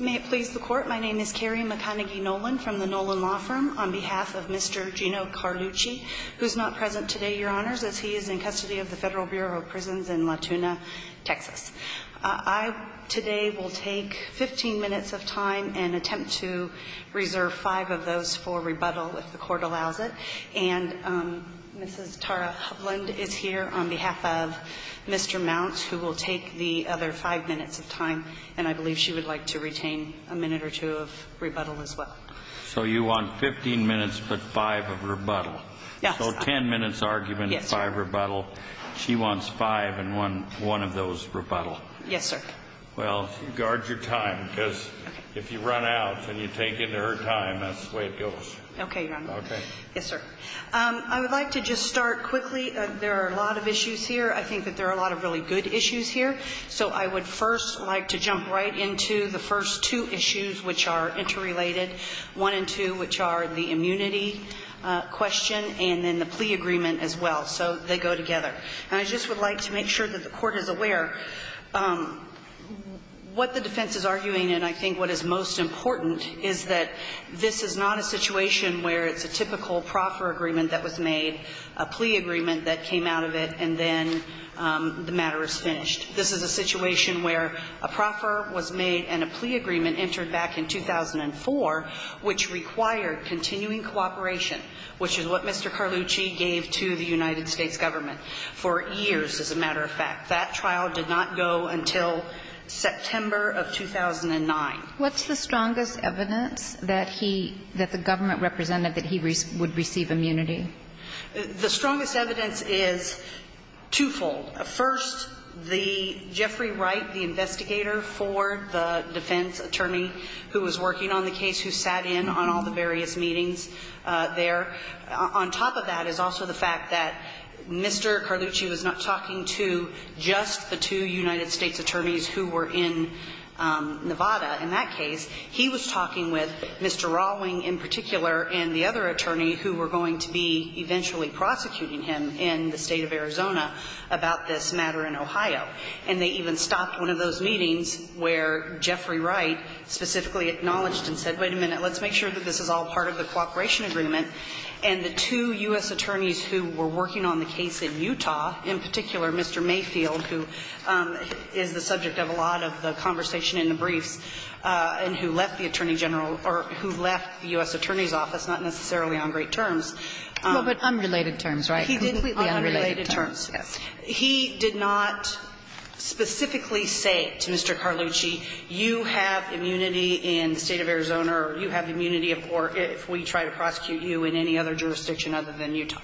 May it please the Court, my name is Carrie McConaghy-Nolan from the Nolan Law Firm, on behalf of Mr. Gino Carlucci, who is not present today, Your Honors, as he is in custody of the Federal Bureau of Prisons in Latuna, Texas. I today will take 15 minutes of time and attempt to reserve five of those for rebuttal, if the Court allows it, and Mrs. Tara Hubland is here on behalf of Mr. Mounts, who will take the other five minutes of time, and I believe she would like to retain a minute or two of rebuttal as well. So you want 15 minutes but five of rebuttal. Yes, sir. So 10 minutes argument and five rebuttal. Yes, sir. She wants five and one of those rebuttal. Yes, sir. Well, guard your time, because if you run out and you take into her time, that's the way it goes. Okay, Your Honor. Okay. Yes, sir. I would like to just start quickly. There are a lot of issues here. I think that there are a lot of really good issues here. So I would first like to jump right into the first two issues, which are interrelated, one and two, which are the immunity question and then the plea agreement as well. So they go together. And I just would like to make sure that the Court is aware what the defense is arguing, and I think what is most important is that this is not a situation where it's a typical proffer agreement that was made, a plea agreement that came out of it, and then the matter is finished. This is a situation where a proffer was made and a plea agreement entered back in 2004, which required continuing cooperation, which is what Mr. Carlucci gave to the United States government for years, as a matter of fact. That trial did not go until September of 2009. What's the strongest evidence that he – that the government represented that he would receive immunity? The strongest evidence is twofold. First, the – Jeffrey Wright, the investigator for the defense attorney who was working on the case, who sat in on all the various meetings there. On top of that is also the fact that Mr. Carlucci was not talking to just the two United States attorneys who were in Nevada in that case. He was talking with Mr. Rawling in particular and the other attorney who were going to be eventually prosecuting him in the State of Arizona about this matter in Ohio. And they even stopped one of those meetings where Jeffrey Wright specifically acknowledged and said, wait a minute, let's make sure that this is all part of the cooperation agreement. And the two U.S. attorneys who were working on the case in Utah, in particular Mr. Mayfield, who is the subject of a lot of the conversation in the briefs, and who left the Attorney General or who left the U.S. Attorney's Office, not necessarily on great terms. Kagan But unrelated terms, right? Completely unrelated terms, yes. He did not specifically say to Mr. Carlucci, you have immunity in the State of Arizona or you have immunity if we try to prosecute you in any other jurisdiction other than Utah.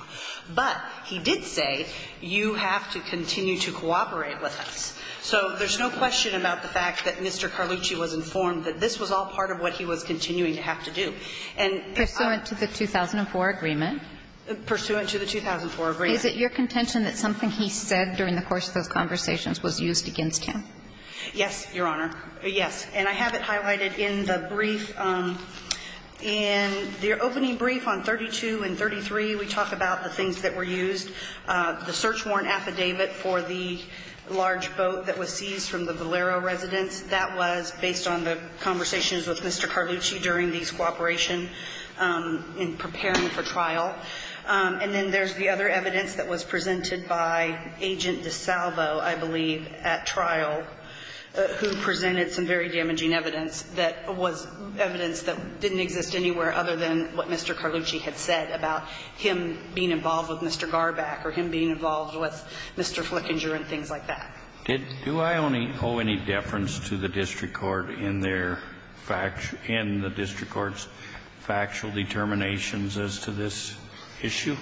But he did say, you have to continue to cooperate with us. So there's no question about the fact that Mr. Carlucci was informed that this was all part of what he was continuing to have to do. And I'm going to the 2004 agreement. Pursuant to the 2004 agreement. Is it your contention that something he said during the course of those conversations was used against him? Yes, Your Honor, yes. And I have it highlighted in the brief. In the opening brief on 32 and 33, we talk about the things that were used. The search warrant affidavit for the large boat that was seized from the Valero residence. That was based on the conversations with Mr. Carlucci during these cooperation in preparing for trial. And then there's the other evidence that was presented by Agent DeSalvo, I believe, at trial, who presented some very damaging evidence that was evidence that didn't exist anywhere other than what Mr. Carlucci had said about him being involved with Mr. Garback or him being involved with Mr. Flickinger and things like that. Do I owe any deference to the district court in their factual, in the district court's factual determinations as to this issue?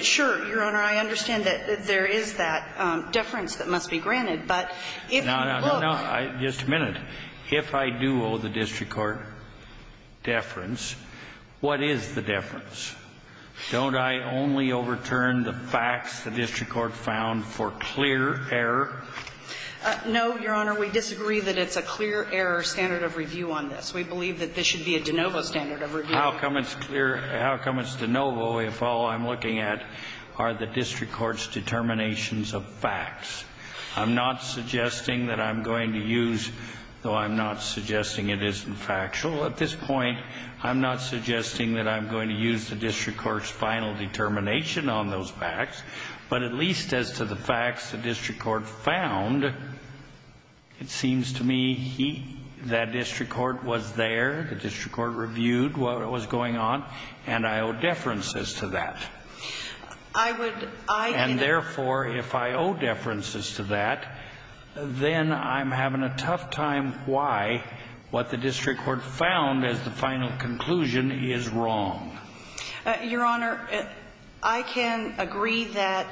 Sure, Your Honor. I understand that there is that deference that must be granted, but if you look No, no, no. Just a minute. If I do owe the district court deference, what is the deference? Don't I only overturn the facts the district court found for clear error? No, Your Honor. We disagree that it's a clear error standard of review on this. We believe that this should be a de novo standard of review. How come it's de novo if all I'm looking at are the district court's determinations of facts? I'm not suggesting that I'm going to use, though I'm not suggesting it isn't factual. At this point, I'm not suggesting that I'm going to use the district court's final determination on those facts. But at least as to the facts the district court found, it seems to me that district court was there. The district court reviewed what was going on, and I owe deferences to that. I would, I can And therefore, if I owe deferences to that, then I'm having a tough time why what the district court found as the final conclusion is wrong. Your Honor, I can agree that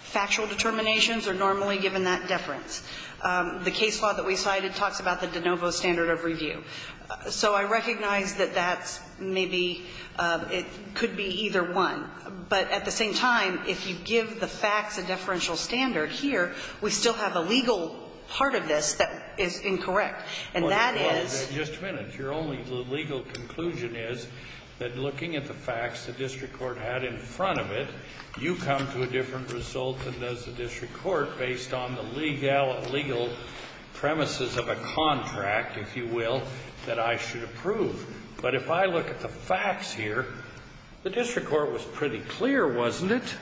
factual determinations are normally given that deference. The case law that we cited talks about the de novo standard of review. So I recognize that that's maybe, it could be either one. But at the same time, if you give the facts a deferential standard here, we still have a legal part of this that is incorrect. And that is Just a minute. Your only legal conclusion is that looking at the facts the district court had in front of it, you come to a different result than does the district court based on the legal premises of a contract, if you will, that I should approve. But if I look at the facts here, the district court was pretty clear, wasn't it?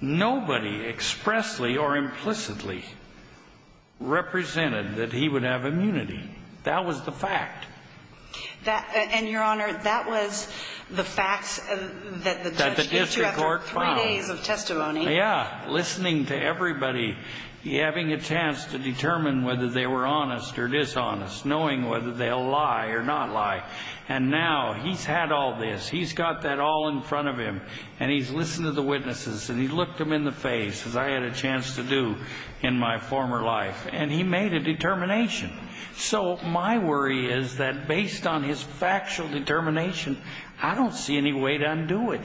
Nobody expressly or implicitly represented that he would have immunity. That was the fact. And Your Honor, that was the facts that the district court found. Three days of testimony. Yeah. Listening to everybody, having a chance to determine whether they were honest or dishonest, knowing whether they'll lie or not lie. And now he's had all this. He's got that all in front of him. And he's listened to the witnesses and he looked them in the face, as I had a chance to do in my former life. And he made a determination. So my worry is that based on his factual determination, I don't see any way to undo it.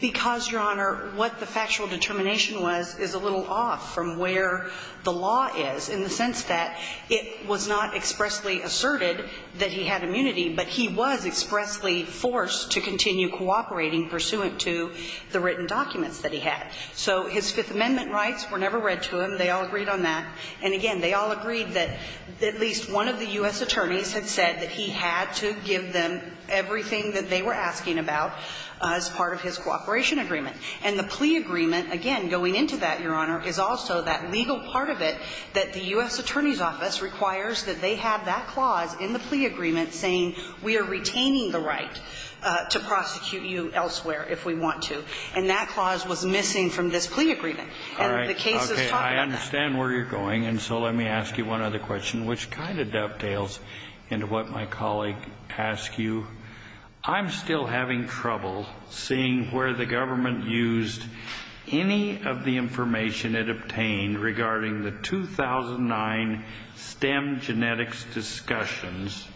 Because, Your Honor, what the factual determination was is a little off from where the law is in the sense that it was not expressly asserted that he had immunity, but he was expressly forced to continue cooperating pursuant to the written documents that he had. So his Fifth Amendment rights were never read to him. They all agreed on that. And again, they all agreed that at least one of the U.S. attorneys had said that he had to give them everything that they were asking about as part of his cooperation agreement. And the plea agreement, again, going into that, Your Honor, is also that legal part of it that the U.S. Attorney's Office requires that they have that clause in the plea agreement saying we are retaining the right to prosecute you elsewhere if we want to. And that clause was missing from this plea agreement. All right. And the cases talk about that. I understand where you're going, and so let me ask you one other question, which kind of dovetails into what my colleague asked you. I'm still having trouble seeing where the government used any of the information it obtained regarding the 2009 stem genetics discussions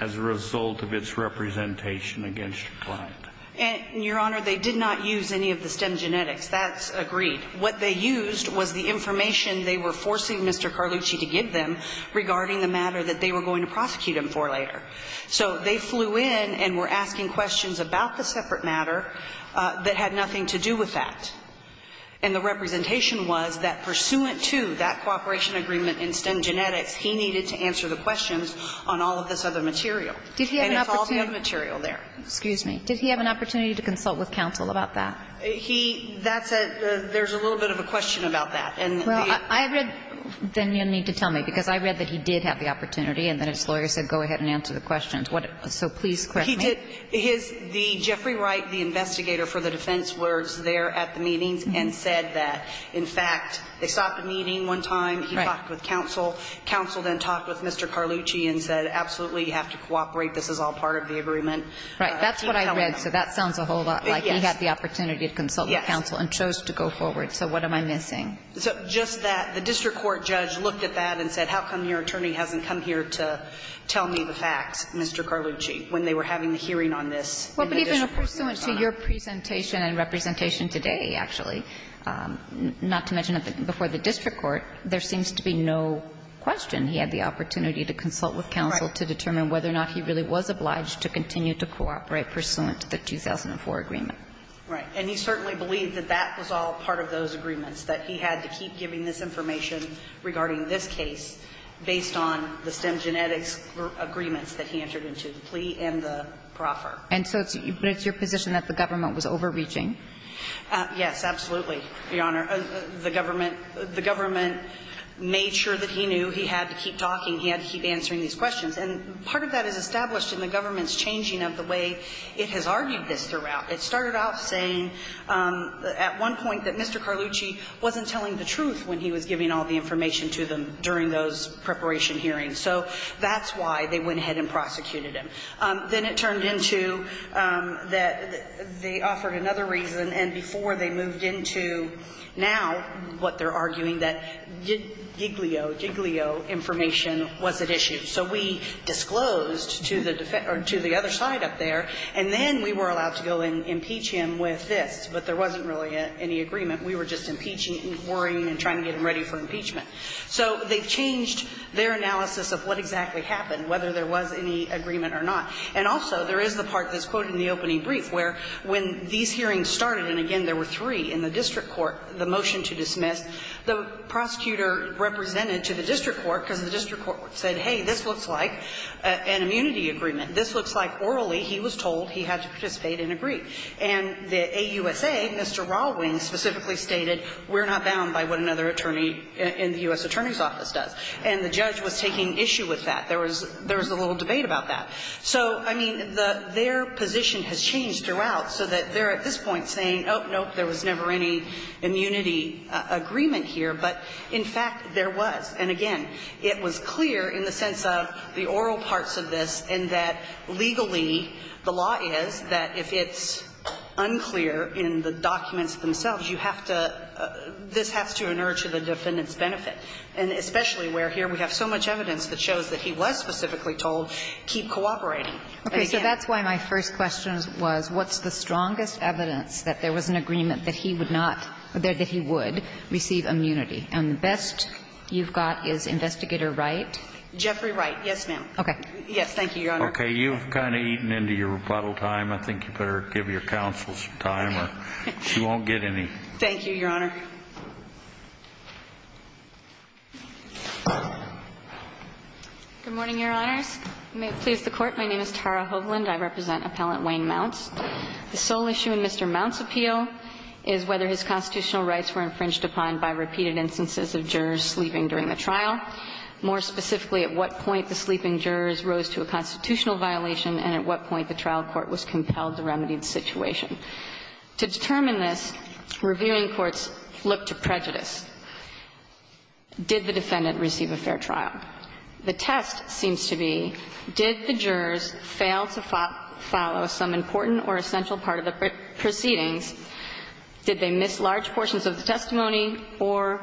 as a result of its representation against your client. And, Your Honor, they did not use any of the stem genetics. That's agreed. What they used was the information they were forcing Mr. Carlucci to give them regarding the matter that they were going to prosecute him for later. So they flew in and were asking questions about the separate matter that had nothing to do with that. And the representation was that pursuant to that cooperation agreement in stem genetics, he needed to answer the questions on all of this other material. And it's all the other material there. Did he have an opportunity to consult with counsel about that? He – that's a – there's a little bit of a question about that. And the – Well, I read – then you'll need to tell me, because I read that he did have the opportunity, and then his lawyer said, go ahead and answer the questions. What – so please correct me. He did – his – the – Jeffrey Wright, the investigator for the defense, was there at the meetings and said that, in fact, they stopped a meeting one time. Right. He talked with counsel. Counsel then talked with Mr. Carlucci and said, absolutely, you have to cooperate. This is all part of the agreement. Right. That's what I read. So that sounds a whole lot like he had the opportunity. Yes. To consult with counsel and chose to go forward. So what am I missing? So just that the district court judge looked at that and said, how come your attorney hasn't come here to tell me the facts, Mr. Carlucci, when they were having the hearing on this? Well, but even pursuant to your presentation and representation today, actually, not to mention before the district court, there seems to be no question he had the opportunity to consult with counsel to determine whether or not he really was obliged to continue to cooperate pursuant to the 2004 agreement. Right. And he certainly believed that that was all part of those agreements, that he had to keep giving this information regarding this case based on the stem genetics agreements that he entered into, the plea and the proffer. And so it's your position that the government was overreaching? Yes, absolutely, Your Honor. The government made sure that he knew he had to keep talking, he had to keep answering these questions. And part of that is established in the government's changing of the way it has argued this throughout. It started out saying at one point that Mr. Carlucci wasn't telling the truth when he was giving all the information to them during those preparation hearings. So that's why they went ahead and prosecuted him. Then it turned into that they offered another reason, and before they moved into now what they're arguing, that Giglio, Giglio information wasn't issued. So we disclosed to the other side up there, and then we were allowed to go and impeach him with this, but there wasn't really any agreement. We were just impeaching, inquiring, and trying to get him ready for impeachment. So they've changed their analysis of what exactly happened, whether there was any agreement or not. And also there is the part that's quoted in the opening brief where when these hearings started, and again there were three in the district court, the motion to dismiss, the prosecutor represented to the district court, because the district court said, hey, this looks like an immunity agreement. This looks like orally he was told he had to participate and agree. And the AUSA, Mr. Rawlings specifically stated, we're not bound by what another attorney in the U.S. Attorney's Office does. And the judge was taking issue with that. There was a little debate about that. So, I mean, their position has changed throughout so that they're at this point saying, oh, no, there was never any immunity agreement here, but in fact there was. And, again, it was clear in the sense of the oral parts of this in that legally the law is that if it's unclear in the documents themselves, you have to – this has to inert to the defendant's benefit. And especially where here we have so much evidence that shows that he was specifically told, keep cooperating. But again – Okay. So that's why my first question was, what's the strongest evidence that there was an agreement that he would not – that he would receive immunity? And the best you've got is Investigator Wright? Jeffrey Wright, yes, ma'am. Okay. Yes, thank you, Your Honor. Okay. You've kind of eaten into your rebuttal time. I think you better give your counsel some time or she won't get any. Thank you, Your Honor. Good morning, Your Honors. You may please the Court. My name is Tara Hovland. I represent Appellant Wayne Mounts. The sole issue in Mr. Mount's appeal is whether his constitutional rights were infringed upon by repeated instances of jurors sleeping during the trial, more specifically, at what point the sleeping jurors rose to a constitutional violation and at what point the trial court was compelled to remedy the situation. To determine this, reviewing courts look to prejudice. Did the defendant receive a fair trial? The test seems to be, did the jurors fail to follow some important or essential part of the proceedings? Did they miss large portions of the testimony or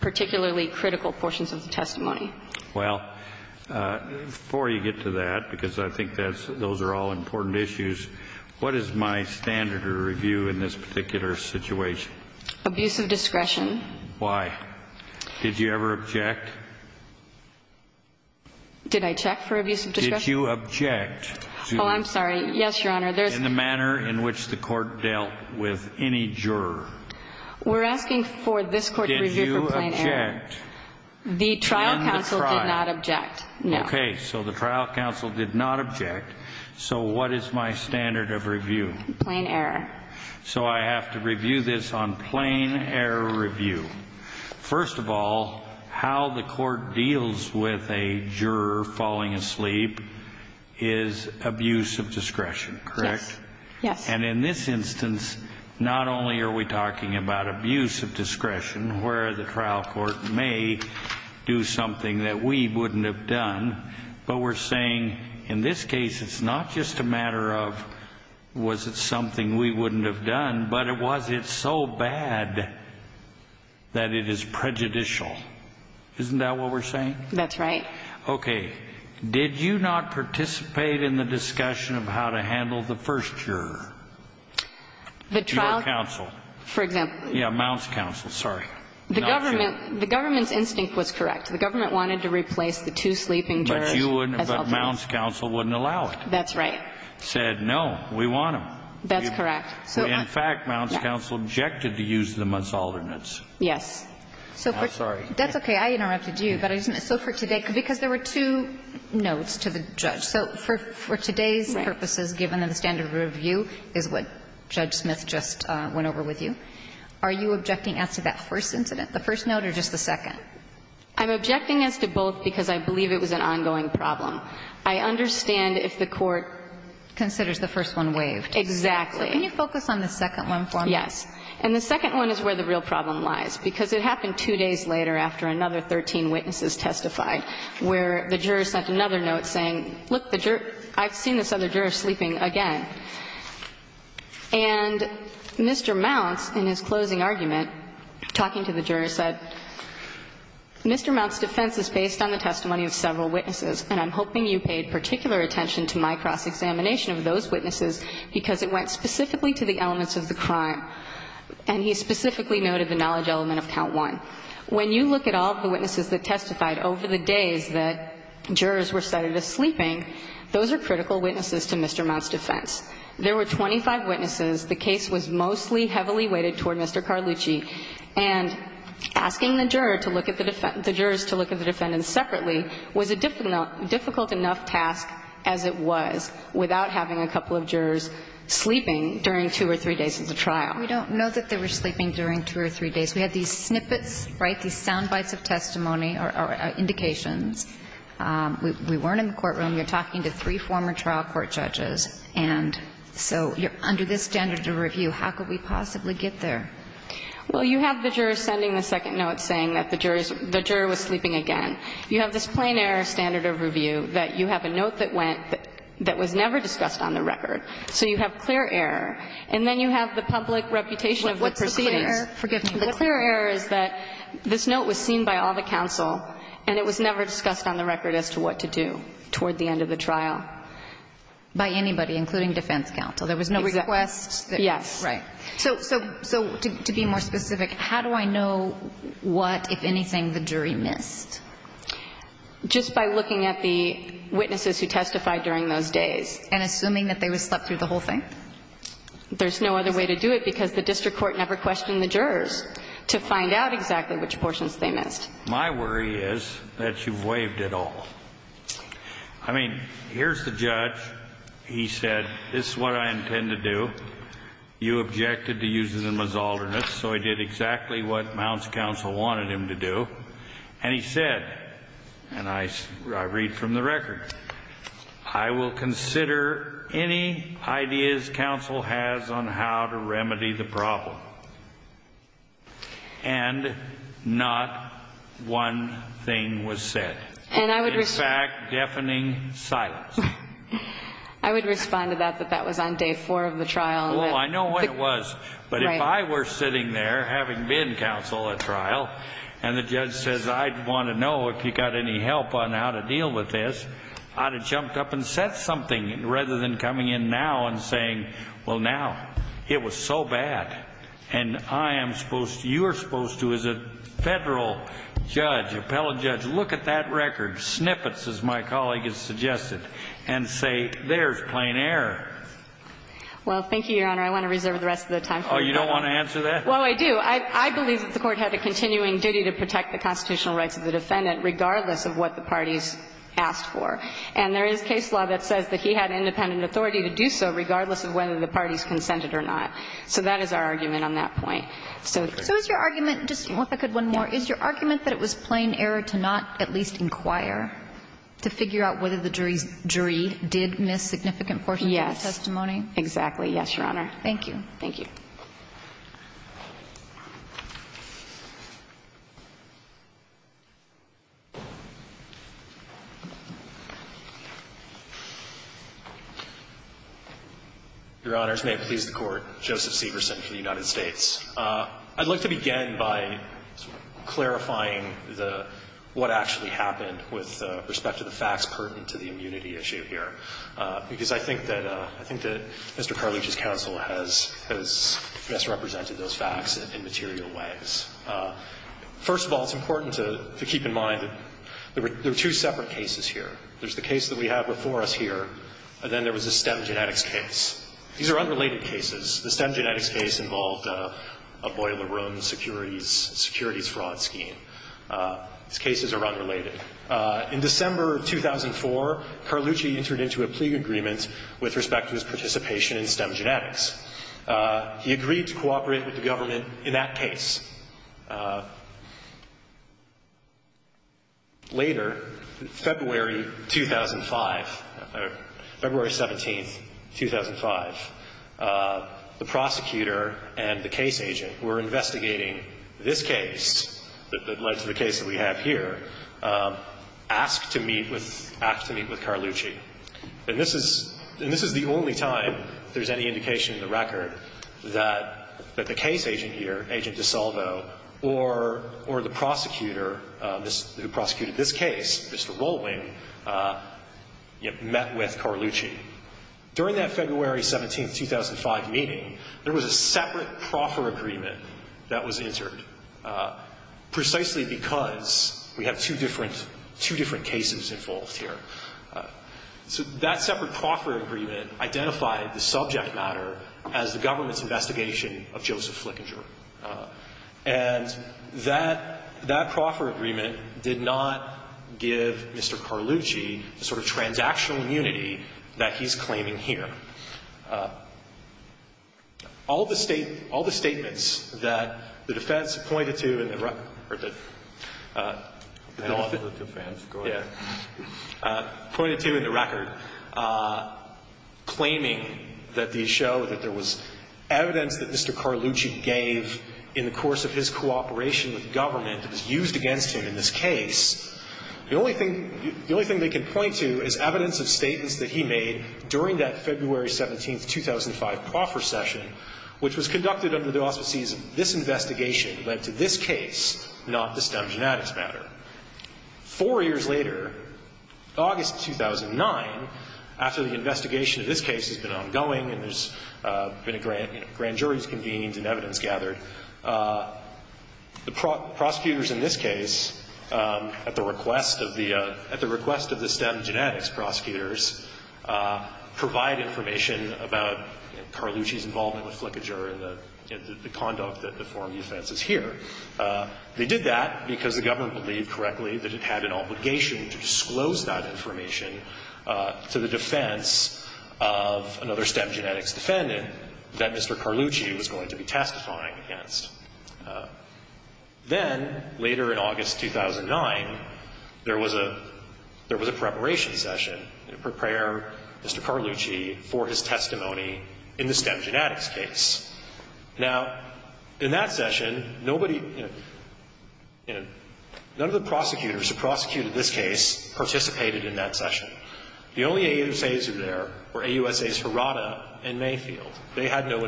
particularly critical portions of the testimony? Well, before you get to that, because I think those are all important issues, what is my standard of review in this particular situation? Abuse of discretion. Why? Did you ever object? Did I check for abuse of discretion? Did you object to... Oh, I'm sorry. Yes, Your Honor. In the manner in which the court dealt with any juror. We're asking for this court to review for plain error. Did you object? The trial counsel did not object. No. Okay, so the trial counsel did not object. So what is my standard of review? Plain error. So I have to review this on plain error review. First of all, how the court deals with a juror falling asleep is abuse of discretion. Correct? Yes. And in this instance, not only are we talking about abuse of discretion where the trial court may do something that we wouldn't have done, but we're saying in this case, it's not just a matter of was it something we wouldn't have done, but was it so bad that it is prejudicial? Isn't that what we're saying? That's right. Okay. Did you not participate in the discussion of how to handle the first juror to your counsel? For example. Yeah, Mount's counsel. Sorry. The government's instinct was correct. The government wanted to replace the two sleeping jurors as alternates. But Mount's counsel wouldn't allow it. That's right. Said, no, we want them. That's correct. In fact, Mount's counsel objected to use them as alternates. Yes. I'm sorry. That's okay. I interrupted you. So for today, because there were two notes to the judge. So for today's purposes, given that the standard of review is what Judge Smith just went over with you, are you objecting as to that first incident, the first note or just the second? I'm objecting as to both because I believe it was an ongoing problem. I understand if the court considers the first one waived. Exactly. Can you focus on the second one for me? Yes. And the second one is where the real problem lies, because it happened two days later after another 13 witnesses testified, where the juror sent another note saying, look, I've seen this other juror sleeping again. And Mr. Mount, in his closing argument, talking to the juror, said, Mr. Mount's defense is based on the testimony of several witnesses, and I'm hoping you paid particular attention to my cross-examination of those witnesses because it went specifically to the elements of the crime. And he specifically noted the knowledge element of count one. When you look at all of the witnesses that testified over the days that jurors were cited as sleeping, those are critical witnesses to Mr. Mount's defense. There were 25 witnesses. The case was mostly heavily weighted toward Mr. Carlucci. And asking the juror to look at the defendant, the jurors to look at the defendants separately was a difficult enough task as it was without having a couple of jurors sleeping during two or three days of the trial. We don't know that they were sleeping during two or three days. We had these snippets, right, these sound bites of testimony or indications. We weren't in the courtroom. We were talking to three former trial court judges. And so under this standard of review, how could we possibly get there? Well, you have the juror sending the second note saying that the juror was sleeping again. You have this plain error standard of review that you have a note that went that was never discussed on the record. So you have clear error. And then you have the public reputation of the proceedings. Forgive me. The clear error is that this note was seen by all the counsel and it was never discussed on the record as to what to do toward the end of the trial. By anybody, including defense counsel. There was no request. Yes. Right. So to be more specific, how do I know what, if anything, the jury missed? Just by looking at the witnesses who testified during those days. And assuming that they were slept through the whole thing? There's no other way to do it because the district court never questioned the jurors to find out exactly which portions they missed. My worry is that you've waived it all. I mean, here's the judge. He said, this is what I intend to do. You objected to using the misalternate. So I did exactly what Mount's counsel wanted him to do. And he said, and I read from the record, I will consider any ideas counsel has on how to remedy the problem. And not one thing was said. In fact, deafening silence. I would respond to that, but that was on day four of the trial. Oh, I know when it was. But if I were sitting there, having been counsel at trial, and the judge says, I'd want to know if you got any help on how to deal with this, I'd have jumped up and said something rather than coming in now and saying, well, now, it was so bad. And I am supposed to, you are supposed to, as a Federal judge, appellate judge, look at that record, snippets, as my colleague has suggested, and say, there's plain error. Well, thank you, Your Honor. I want to reserve the rest of the time. Oh, you don't want to answer that? Well, I do. I believe that the Court had a continuing duty to protect the constitutional rights of the defendant, regardless of what the parties asked for. And there is case law that says that he had independent authority to do so, regardless of whether the parties consented or not. So that is our argument on that point. So is your argument, just if I could one more, is your argument that it was plain error to not at least inquire, to figure out whether the jury did miss significant portions of the testimony? Exactly. Yes, Your Honor. Thank you. Thank you. Your Honors, may it please the Court, Joseph Severson for the United States. I'd like to begin by sort of clarifying the what actually happened with respect to the facts pertinent to the immunity issue here, because I think that Mr. Carleach's counsel has misrepresented those facts in material ways. First of all, it's important to keep in mind that there were two separate cases here. There's the case that we have before us here, and then there was the STEM Genetics case. These are unrelated cases. The STEM Genetics case involved a boiler room securities fraud scheme. These cases are unrelated. In December of 2004, Carleach entered into a plea agreement with respect to his participation in STEM Genetics. He agreed to cooperate with the government in that case. Later, February 2005, or February 17, 2005, the prosecutor and the case agent were investigating this case that led to the case that we have here, asked to meet with Carleach. And this is the only time there's any indication in the record that the case agent here, Agent DiSalvo, or the prosecutor who prosecuted this case, Mr. Rolling, met with Carleach. During that February 17, 2005 meeting, there was a separate proffer agreement that was entered, precisely because we have two different cases involved here. So that separate proffer agreement identified the subject matter as the government's investigation of Joseph Flickinger. And that proffer agreement did not give Mr. Carleach a sort of transactional immunity that he's claiming here. All the statements that the defense pointed to in the record, claiming that these in the course of his cooperation with government that was used against him in this case, the only thing they can point to is evidence of statements that he made during that February 17, 2005 proffer session, which was conducted under the auspices of this investigation that led to this case, not the STEM Genetics matter. Four years later, August 2009, after the investigation of this case has been ongoing and there's been a grand jury's convened and evidence gathered, the prosecutors in this case, at the request of the STEM Genetics prosecutors, provide information about Carleach's involvement with Flickinger and the conduct that the form of the offense is here. They did that because the government believed correctly that it had an obligation to disclose that information to the defense of another STEM Genetics defendant that Mr. Carleach was going to be testifying against. Then, later in August 2009, there was a preparation session to prepare Mr. Carleach for his testimony in the STEM Genetics case. Now, in that session, nobody, you know, none of the prosecutors who prosecuted this case participated in that session. The only AUSAs who were there were AUSAs Hirata and Mayfield. They had no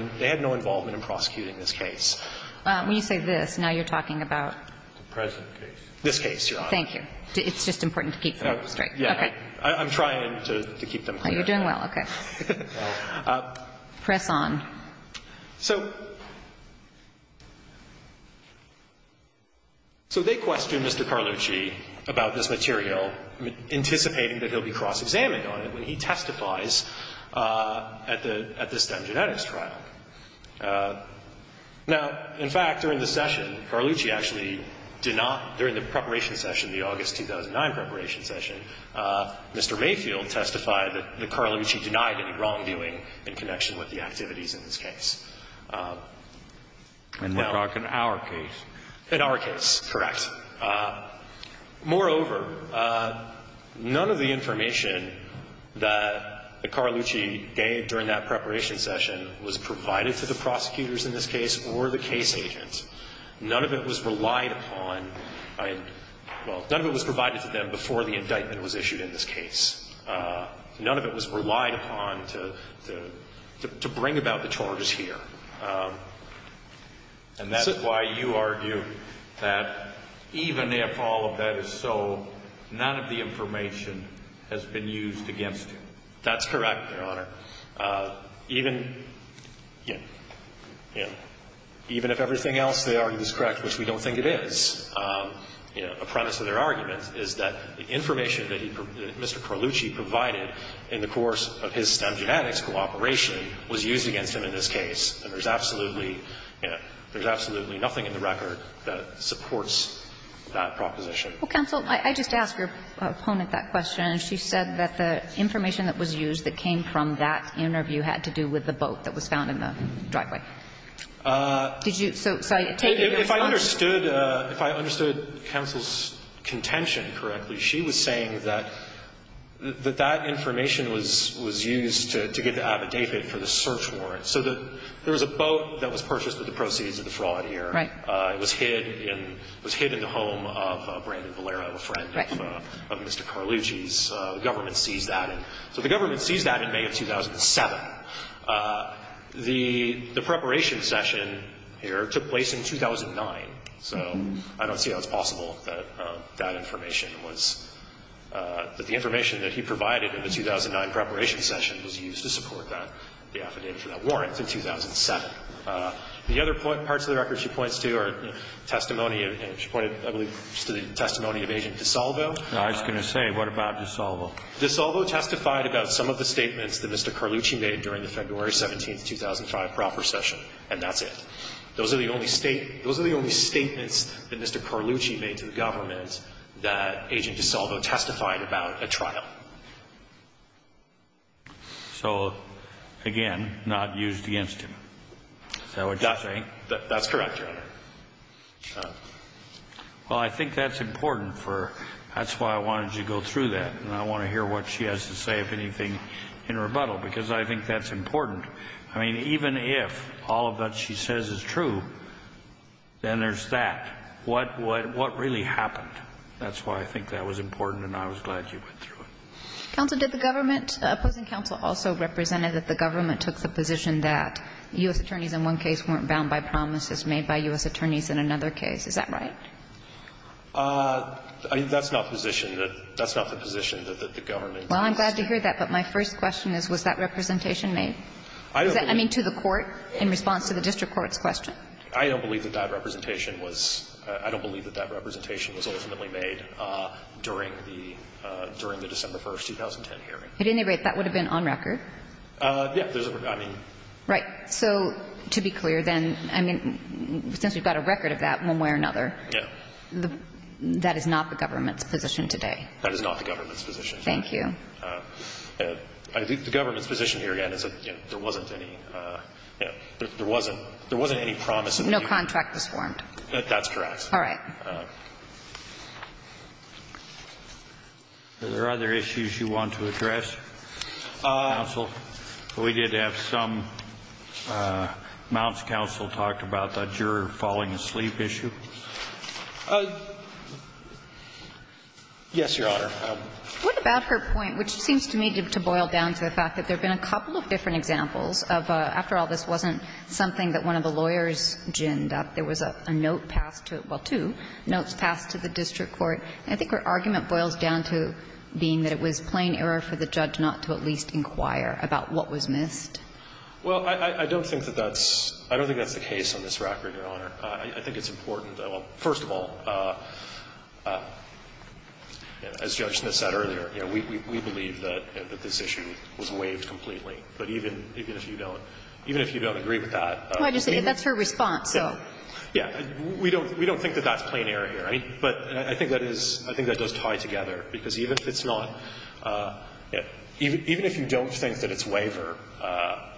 involvement in prosecuting this case. When you say this, now you're talking about? The present case. This case, Your Honor. Thank you. It's just important to keep things straight. Yeah. Okay. I'm trying to keep them clear. Oh, you're doing well. Okay. Press on. So they questioned Mr. Carleach about this material, anticipating that he'll be cross-examined on it when he testifies at the STEM Genetics trial. Now, in fact, during the session, Carleach actually did not, during the preparation session, the August 2009 preparation session, Mr. Mayfield testified that Carleach denied any wrongdoing in connection with the activities in this case. And we're talking our case. In our case, correct. Moreover, none of the information that Carleach gave during that preparation session was provided to the prosecutors in this case or the case agents. None of it was relied upon, well, none of it was provided to them before the indictment was issued in this case. None of it was relied upon to bring about the charges here. And that's why you argue that even if all of that is so, none of the information has been used against him. That's correct, Your Honor. Even, you know, even if everything else they argue is correct, which we don't think it is, you know, a premise of their argument is that the information that Mr. Carleach provided in the course of his STEM Genetics cooperation was used against him in this case. And there's absolutely, you know, there's absolutely nothing in the record that supports that proposition. Well, counsel, I just asked your opponent that question. She said that the information that was used that came from that interview had to do with the boat that was found in the driveway. Did you? So if I understood, if I understood counsel's contention correctly, she was saying that that information was used to get the affidavit for the search warrant. So there was a boat that was purchased with the proceeds of the fraud here. Right. It was hid in the home of Brandon Valera, a friend of Mr. Carleach's. The government seized that. So the government seized that in May of 2007. The preparation session here took place in 2009. So I don't see how it's possible that that information was, that the information that he provided in the 2009 preparation session was used to support that, the affidavit for that warrant in 2007. The other parts of the record she points to are testimony, she pointed, I believe, to the testimony of Agent DiSalvo. I was going to say, what about DiSalvo? DiSalvo testified about some of the statements that Mr. Carleach made during the February 17, 2005, proper session. And that's it. Those are the only statements that Mr. Carleach made to the government that Agent DiSalvo testified about at trial. So, again, not used against him. Is that what you're saying? That's correct, Your Honor. Well, I think that's important for, that's why I wanted you to go through that. And I want to hear what she has to say, if anything, in rebuttal, because I think that's important. I mean, even if all of that she says is true, then there's that. What really happened? That's why I think that was important, and I was glad you went through it. Counsel, did the government, opposing counsel also represented that the government took the position that U.S. attorneys in one case weren't bound by promises made by U.S. attorneys in another case? Is that right? That's not the position that, that's not the position that the government took. Well, I'm glad to hear that, but my first question is, was that representation made? I don't believe. I mean, to the court, in response to the district court's question. I don't believe that that representation was, I don't believe that that representation was ultimately made during the, during the December 1st, 2010 hearing. At any rate, that would have been on record. Yeah, there's a, I mean. Right. So to be clear, then, I mean, since we've got a record of that one way or another, that is not the government's position today. That is not the government's position. Thank you. I think the government's position here, again, is that there wasn't any, you know, there wasn't, there wasn't any promise. No contract was formed. That's correct. All right. Are there other issues you want to address, counsel? We did have some. Mount's counsel talked about the juror falling asleep issue. Yes, Your Honor. What about her point, which seems to me to boil down to the fact that there have been a couple of different examples of, after all, this wasn't something that one of the lawyers ginned up. There was a note passed to, well, two notes passed to the district court, and I think her argument boils down to being that it was plain error for the judge not to at least inquire about what was missed. Well, I don't think that that's, I don't think that's the case on this record, Your Honor. I think it's important, well, first of all, as Judge Smith said earlier, you know, we believe that this issue was waived completely. But even if you don't, even if you don't agree with that. Well, I just think that's her response, so. Yeah. We don't think that that's plain error here. I mean, but I think that is, I think that does tie together. Because even if it's not, even if you don't think that it's waiver,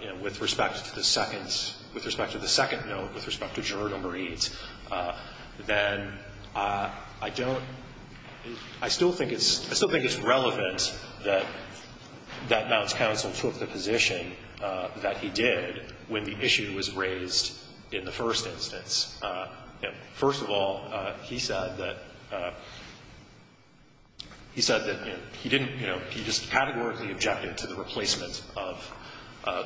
you know, with respect to the second, with respect to the second note, with respect to juror number eight, then I don't, I still think it's, I still think it's relevant that Mount's counsel took the position that he did when the issue was raised in the first instance. And first of all, he said that, he said that, you know, he didn't, you know, he just categorically objected to the replacement of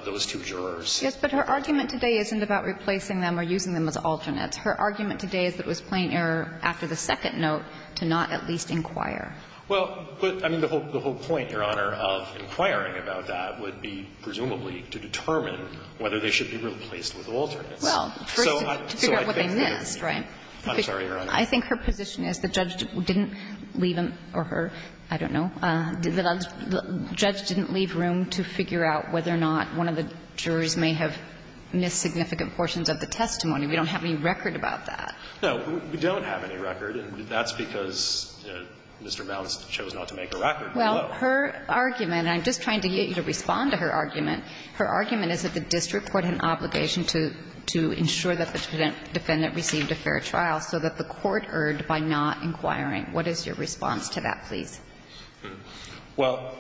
those two jurors. Yes, but her argument today isn't about replacing them or using them as alternates. Her argument today is that it was plain error after the second note to not at least inquire. Well, but, I mean, the whole point, Your Honor, of inquiring about that would be presumably to determine whether they should be replaced with alternates. Well, first, to figure out what they missed, right? I'm sorry, Your Honor. I think her position is the judge didn't leave him or her, I don't know, the judge didn't leave room to figure out whether or not one of the jurors may have missed significant portions of the testimony. We don't have any record about that. No, we don't have any record, and that's because Mr. Mount chose not to make a record. Well, her argument, and I'm just trying to get you to respond to her argument, her argument is that the district court had an obligation to ensure that the defendant received a fair trial so that the court erred by not inquiring. What is your response to that, please? Well,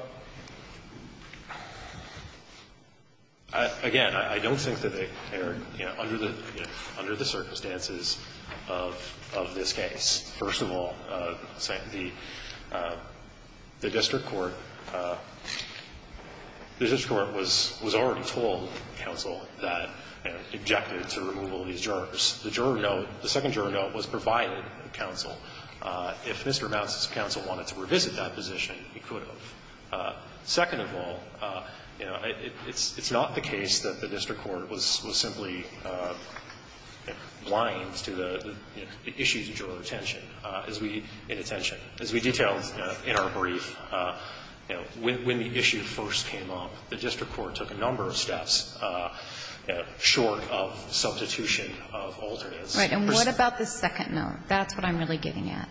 again, I don't think that they erred, you know, under the circumstances of this case. First of all, the district court was already told, counsel, that, you know, objected to removal of these jurors. The juror note, the second juror note, was provided to counsel. If Mr. Mount's counsel wanted to revisit that position, he could have. Second of all, you know, it's not the case that the district court was simply blind to the issues of juror retention as we, in attention, as we detail in our brief. You know, when the issue first came up, the district court took a number of steps short of substitution of alternates. Right. And what about the second note? That's what I'm really getting at.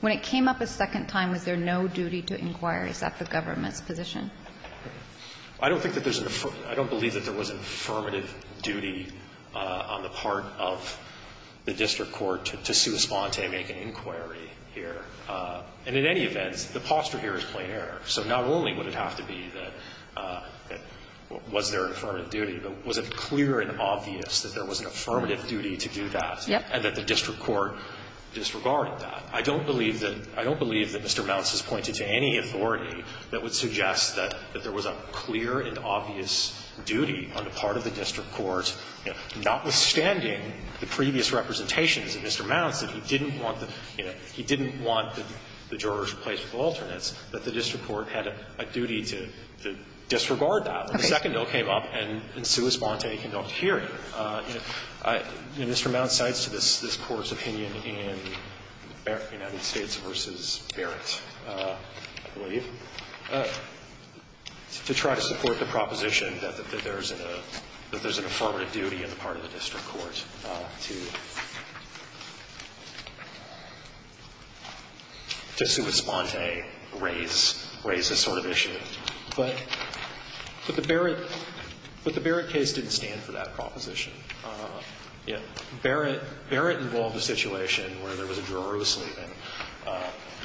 When it came up a second time, was there no duty to inquire? Is that the government's position? I don't think that there's an affirmative – I don't believe that there was an affirmative duty on the part of the district court to sui sponte, make an inquiry here. And in any event, the posture here is plain error. So not only would it have to be that – was there an affirmative duty, but was it clear and obvious that there was an affirmative duty to do that and that the district court disregarded that? I don't believe that – I don't believe that Mr. Mount's has pointed to any authority that would suggest that there was a clear and obvious duty on the part of the district court, notwithstanding the previous representations of Mr. Mount, that he didn't want the – you know, he didn't want the jurors replaced with alternates, that the district court had a duty to disregard that. When the second note came up and in sui sponte, conduct a hearing, you know, Mr. Mount cites to this Court's opinion in United States v. Barrett, I believe, to try to support the proposition that there's an affirmative duty on the part of the district court to – to sui sponte, raise this sort of issue. But the Barrett case didn't stand for that proposition. Barrett involved a situation where there was a juror who was sleeping.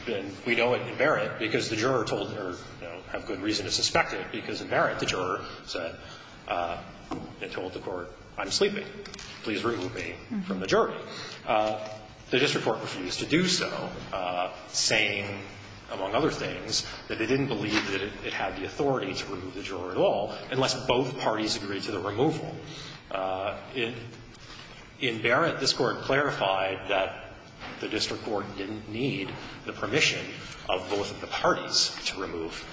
And we know in Barrett, because the juror told her, you know, have good reason to suspect it, because in Barrett, the juror said and told the court, I'm sleeping. Please remove me from the jury. The district court refused to do so, saying, among other things, that they didn't believe that it had the authority to remove the juror at all, unless both parties agreed to the removal. In Barrett, this Court clarified that the district court didn't need the permission of both of the parties to remove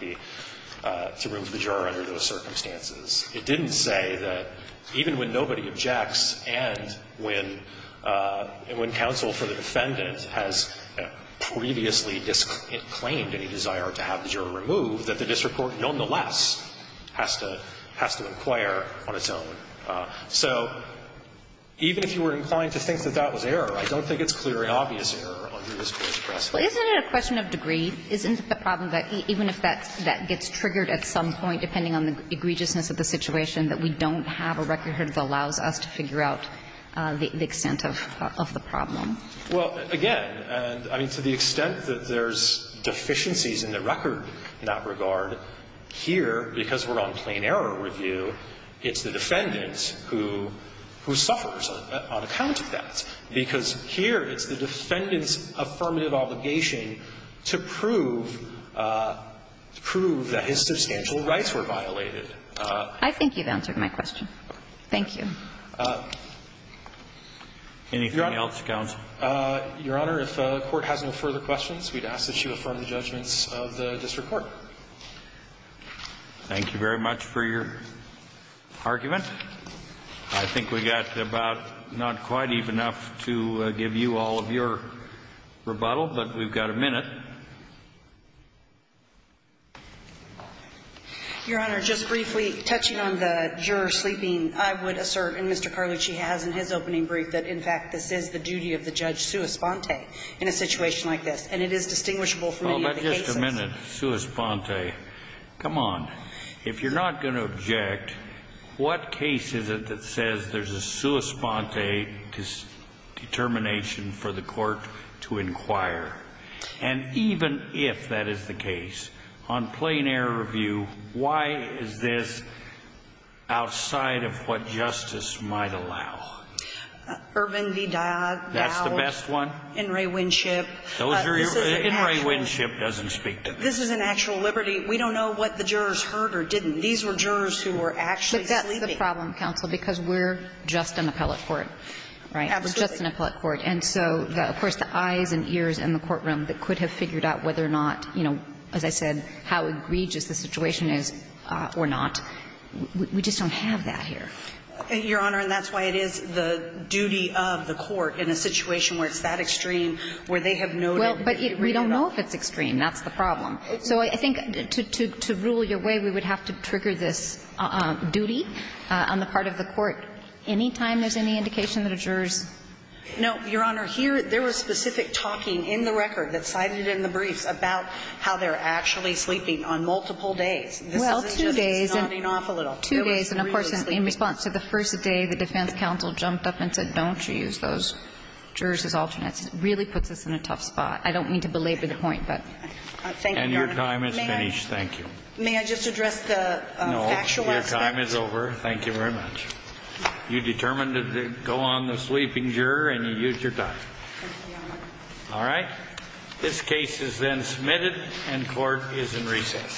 the – to remove the juror under those circumstances. It didn't say that even when nobody objects and when – and when counsel for the defendant has previously disclaimed any desire to have the juror removed, that the district court nonetheless has to – has to inquire on its own. So even if you were inclined to think that that was error, I don't think it's clear and obvious error under this Court's press. Well, isn't it a question of degree? Isn't the problem that even if that's – that gets triggered at some point, depending on the egregiousness of the situation, that we don't have a record that allows us to figure out the extent of the problem? Well, again, and I mean, to the extent that there's deficiencies in the record in that regard, here, because we're on plain error review, it's the defendant who – who suffers on account of that, because here, it's the defendant's affirmative obligation to prove – to prove that his substantial rights were violated. I think you've answered my question. Thank you. Anything else, counsel? Your Honor, if the Court has no further questions, we'd ask that you affirm the judgments of the district court. Thank you very much for your argument. I think we've got about – not quite even enough to give you all of your rebuttal, but we've got a minute. Your Honor, just briefly, touching on the juror sleeping, I would assert, and Mr. Carlucci has in his opening brief, that, in fact, this is the duty of the judge sua sponte in a situation like this, and it is distinguishable from any of the cases. Well, but just a minute, sua sponte. Come on. If you're not going to object, what case is it that says there's a sua sponte determination for the court to inquire? And even if that is the case, on plain error review, why is this outside of what justice might allow? Irvin v. Dowd. That's the best one? In re winship. Those are your – in re winship doesn't speak to this. This is an actual liberty. We don't know what the jurors heard or didn't. These were jurors who were actually sleeping. But that's the problem, counsel, because we're just an appellate court, right? Absolutely. We're just an appellate court. And so, of course, the eyes and ears in the courtroom that could have figured out whether or not, you know, as I said, how egregious the situation is or not, we just don't have that here. Your Honor, and that's why it is the duty of the court in a situation where it's that extreme, where they have no – Well, but we don't know if it's extreme. That's the problem. So I think to rule your way, we would have to trigger this duty on the part of the court any time there's any indication that a juror's – No, Your Honor. Here – there was specific talking in the record that cited in the briefs about how they're actually sleeping on multiple days. This isn't just nodding off a little. Two days. And, of course, in response to the first day, the defense counsel jumped up and said, don't use those jurors as alternates. It really puts us in a tough spot. I don't mean to belabor the point, but – Thank you, Your Honor. And your time is finished. Thank you. May I just address the factual aspect? No. Your time is over. Thank you very much. You determined to go on the sleeping juror, and you used your time. Thank you, Your Honor. All right. This case is then submitted, and court is in recess.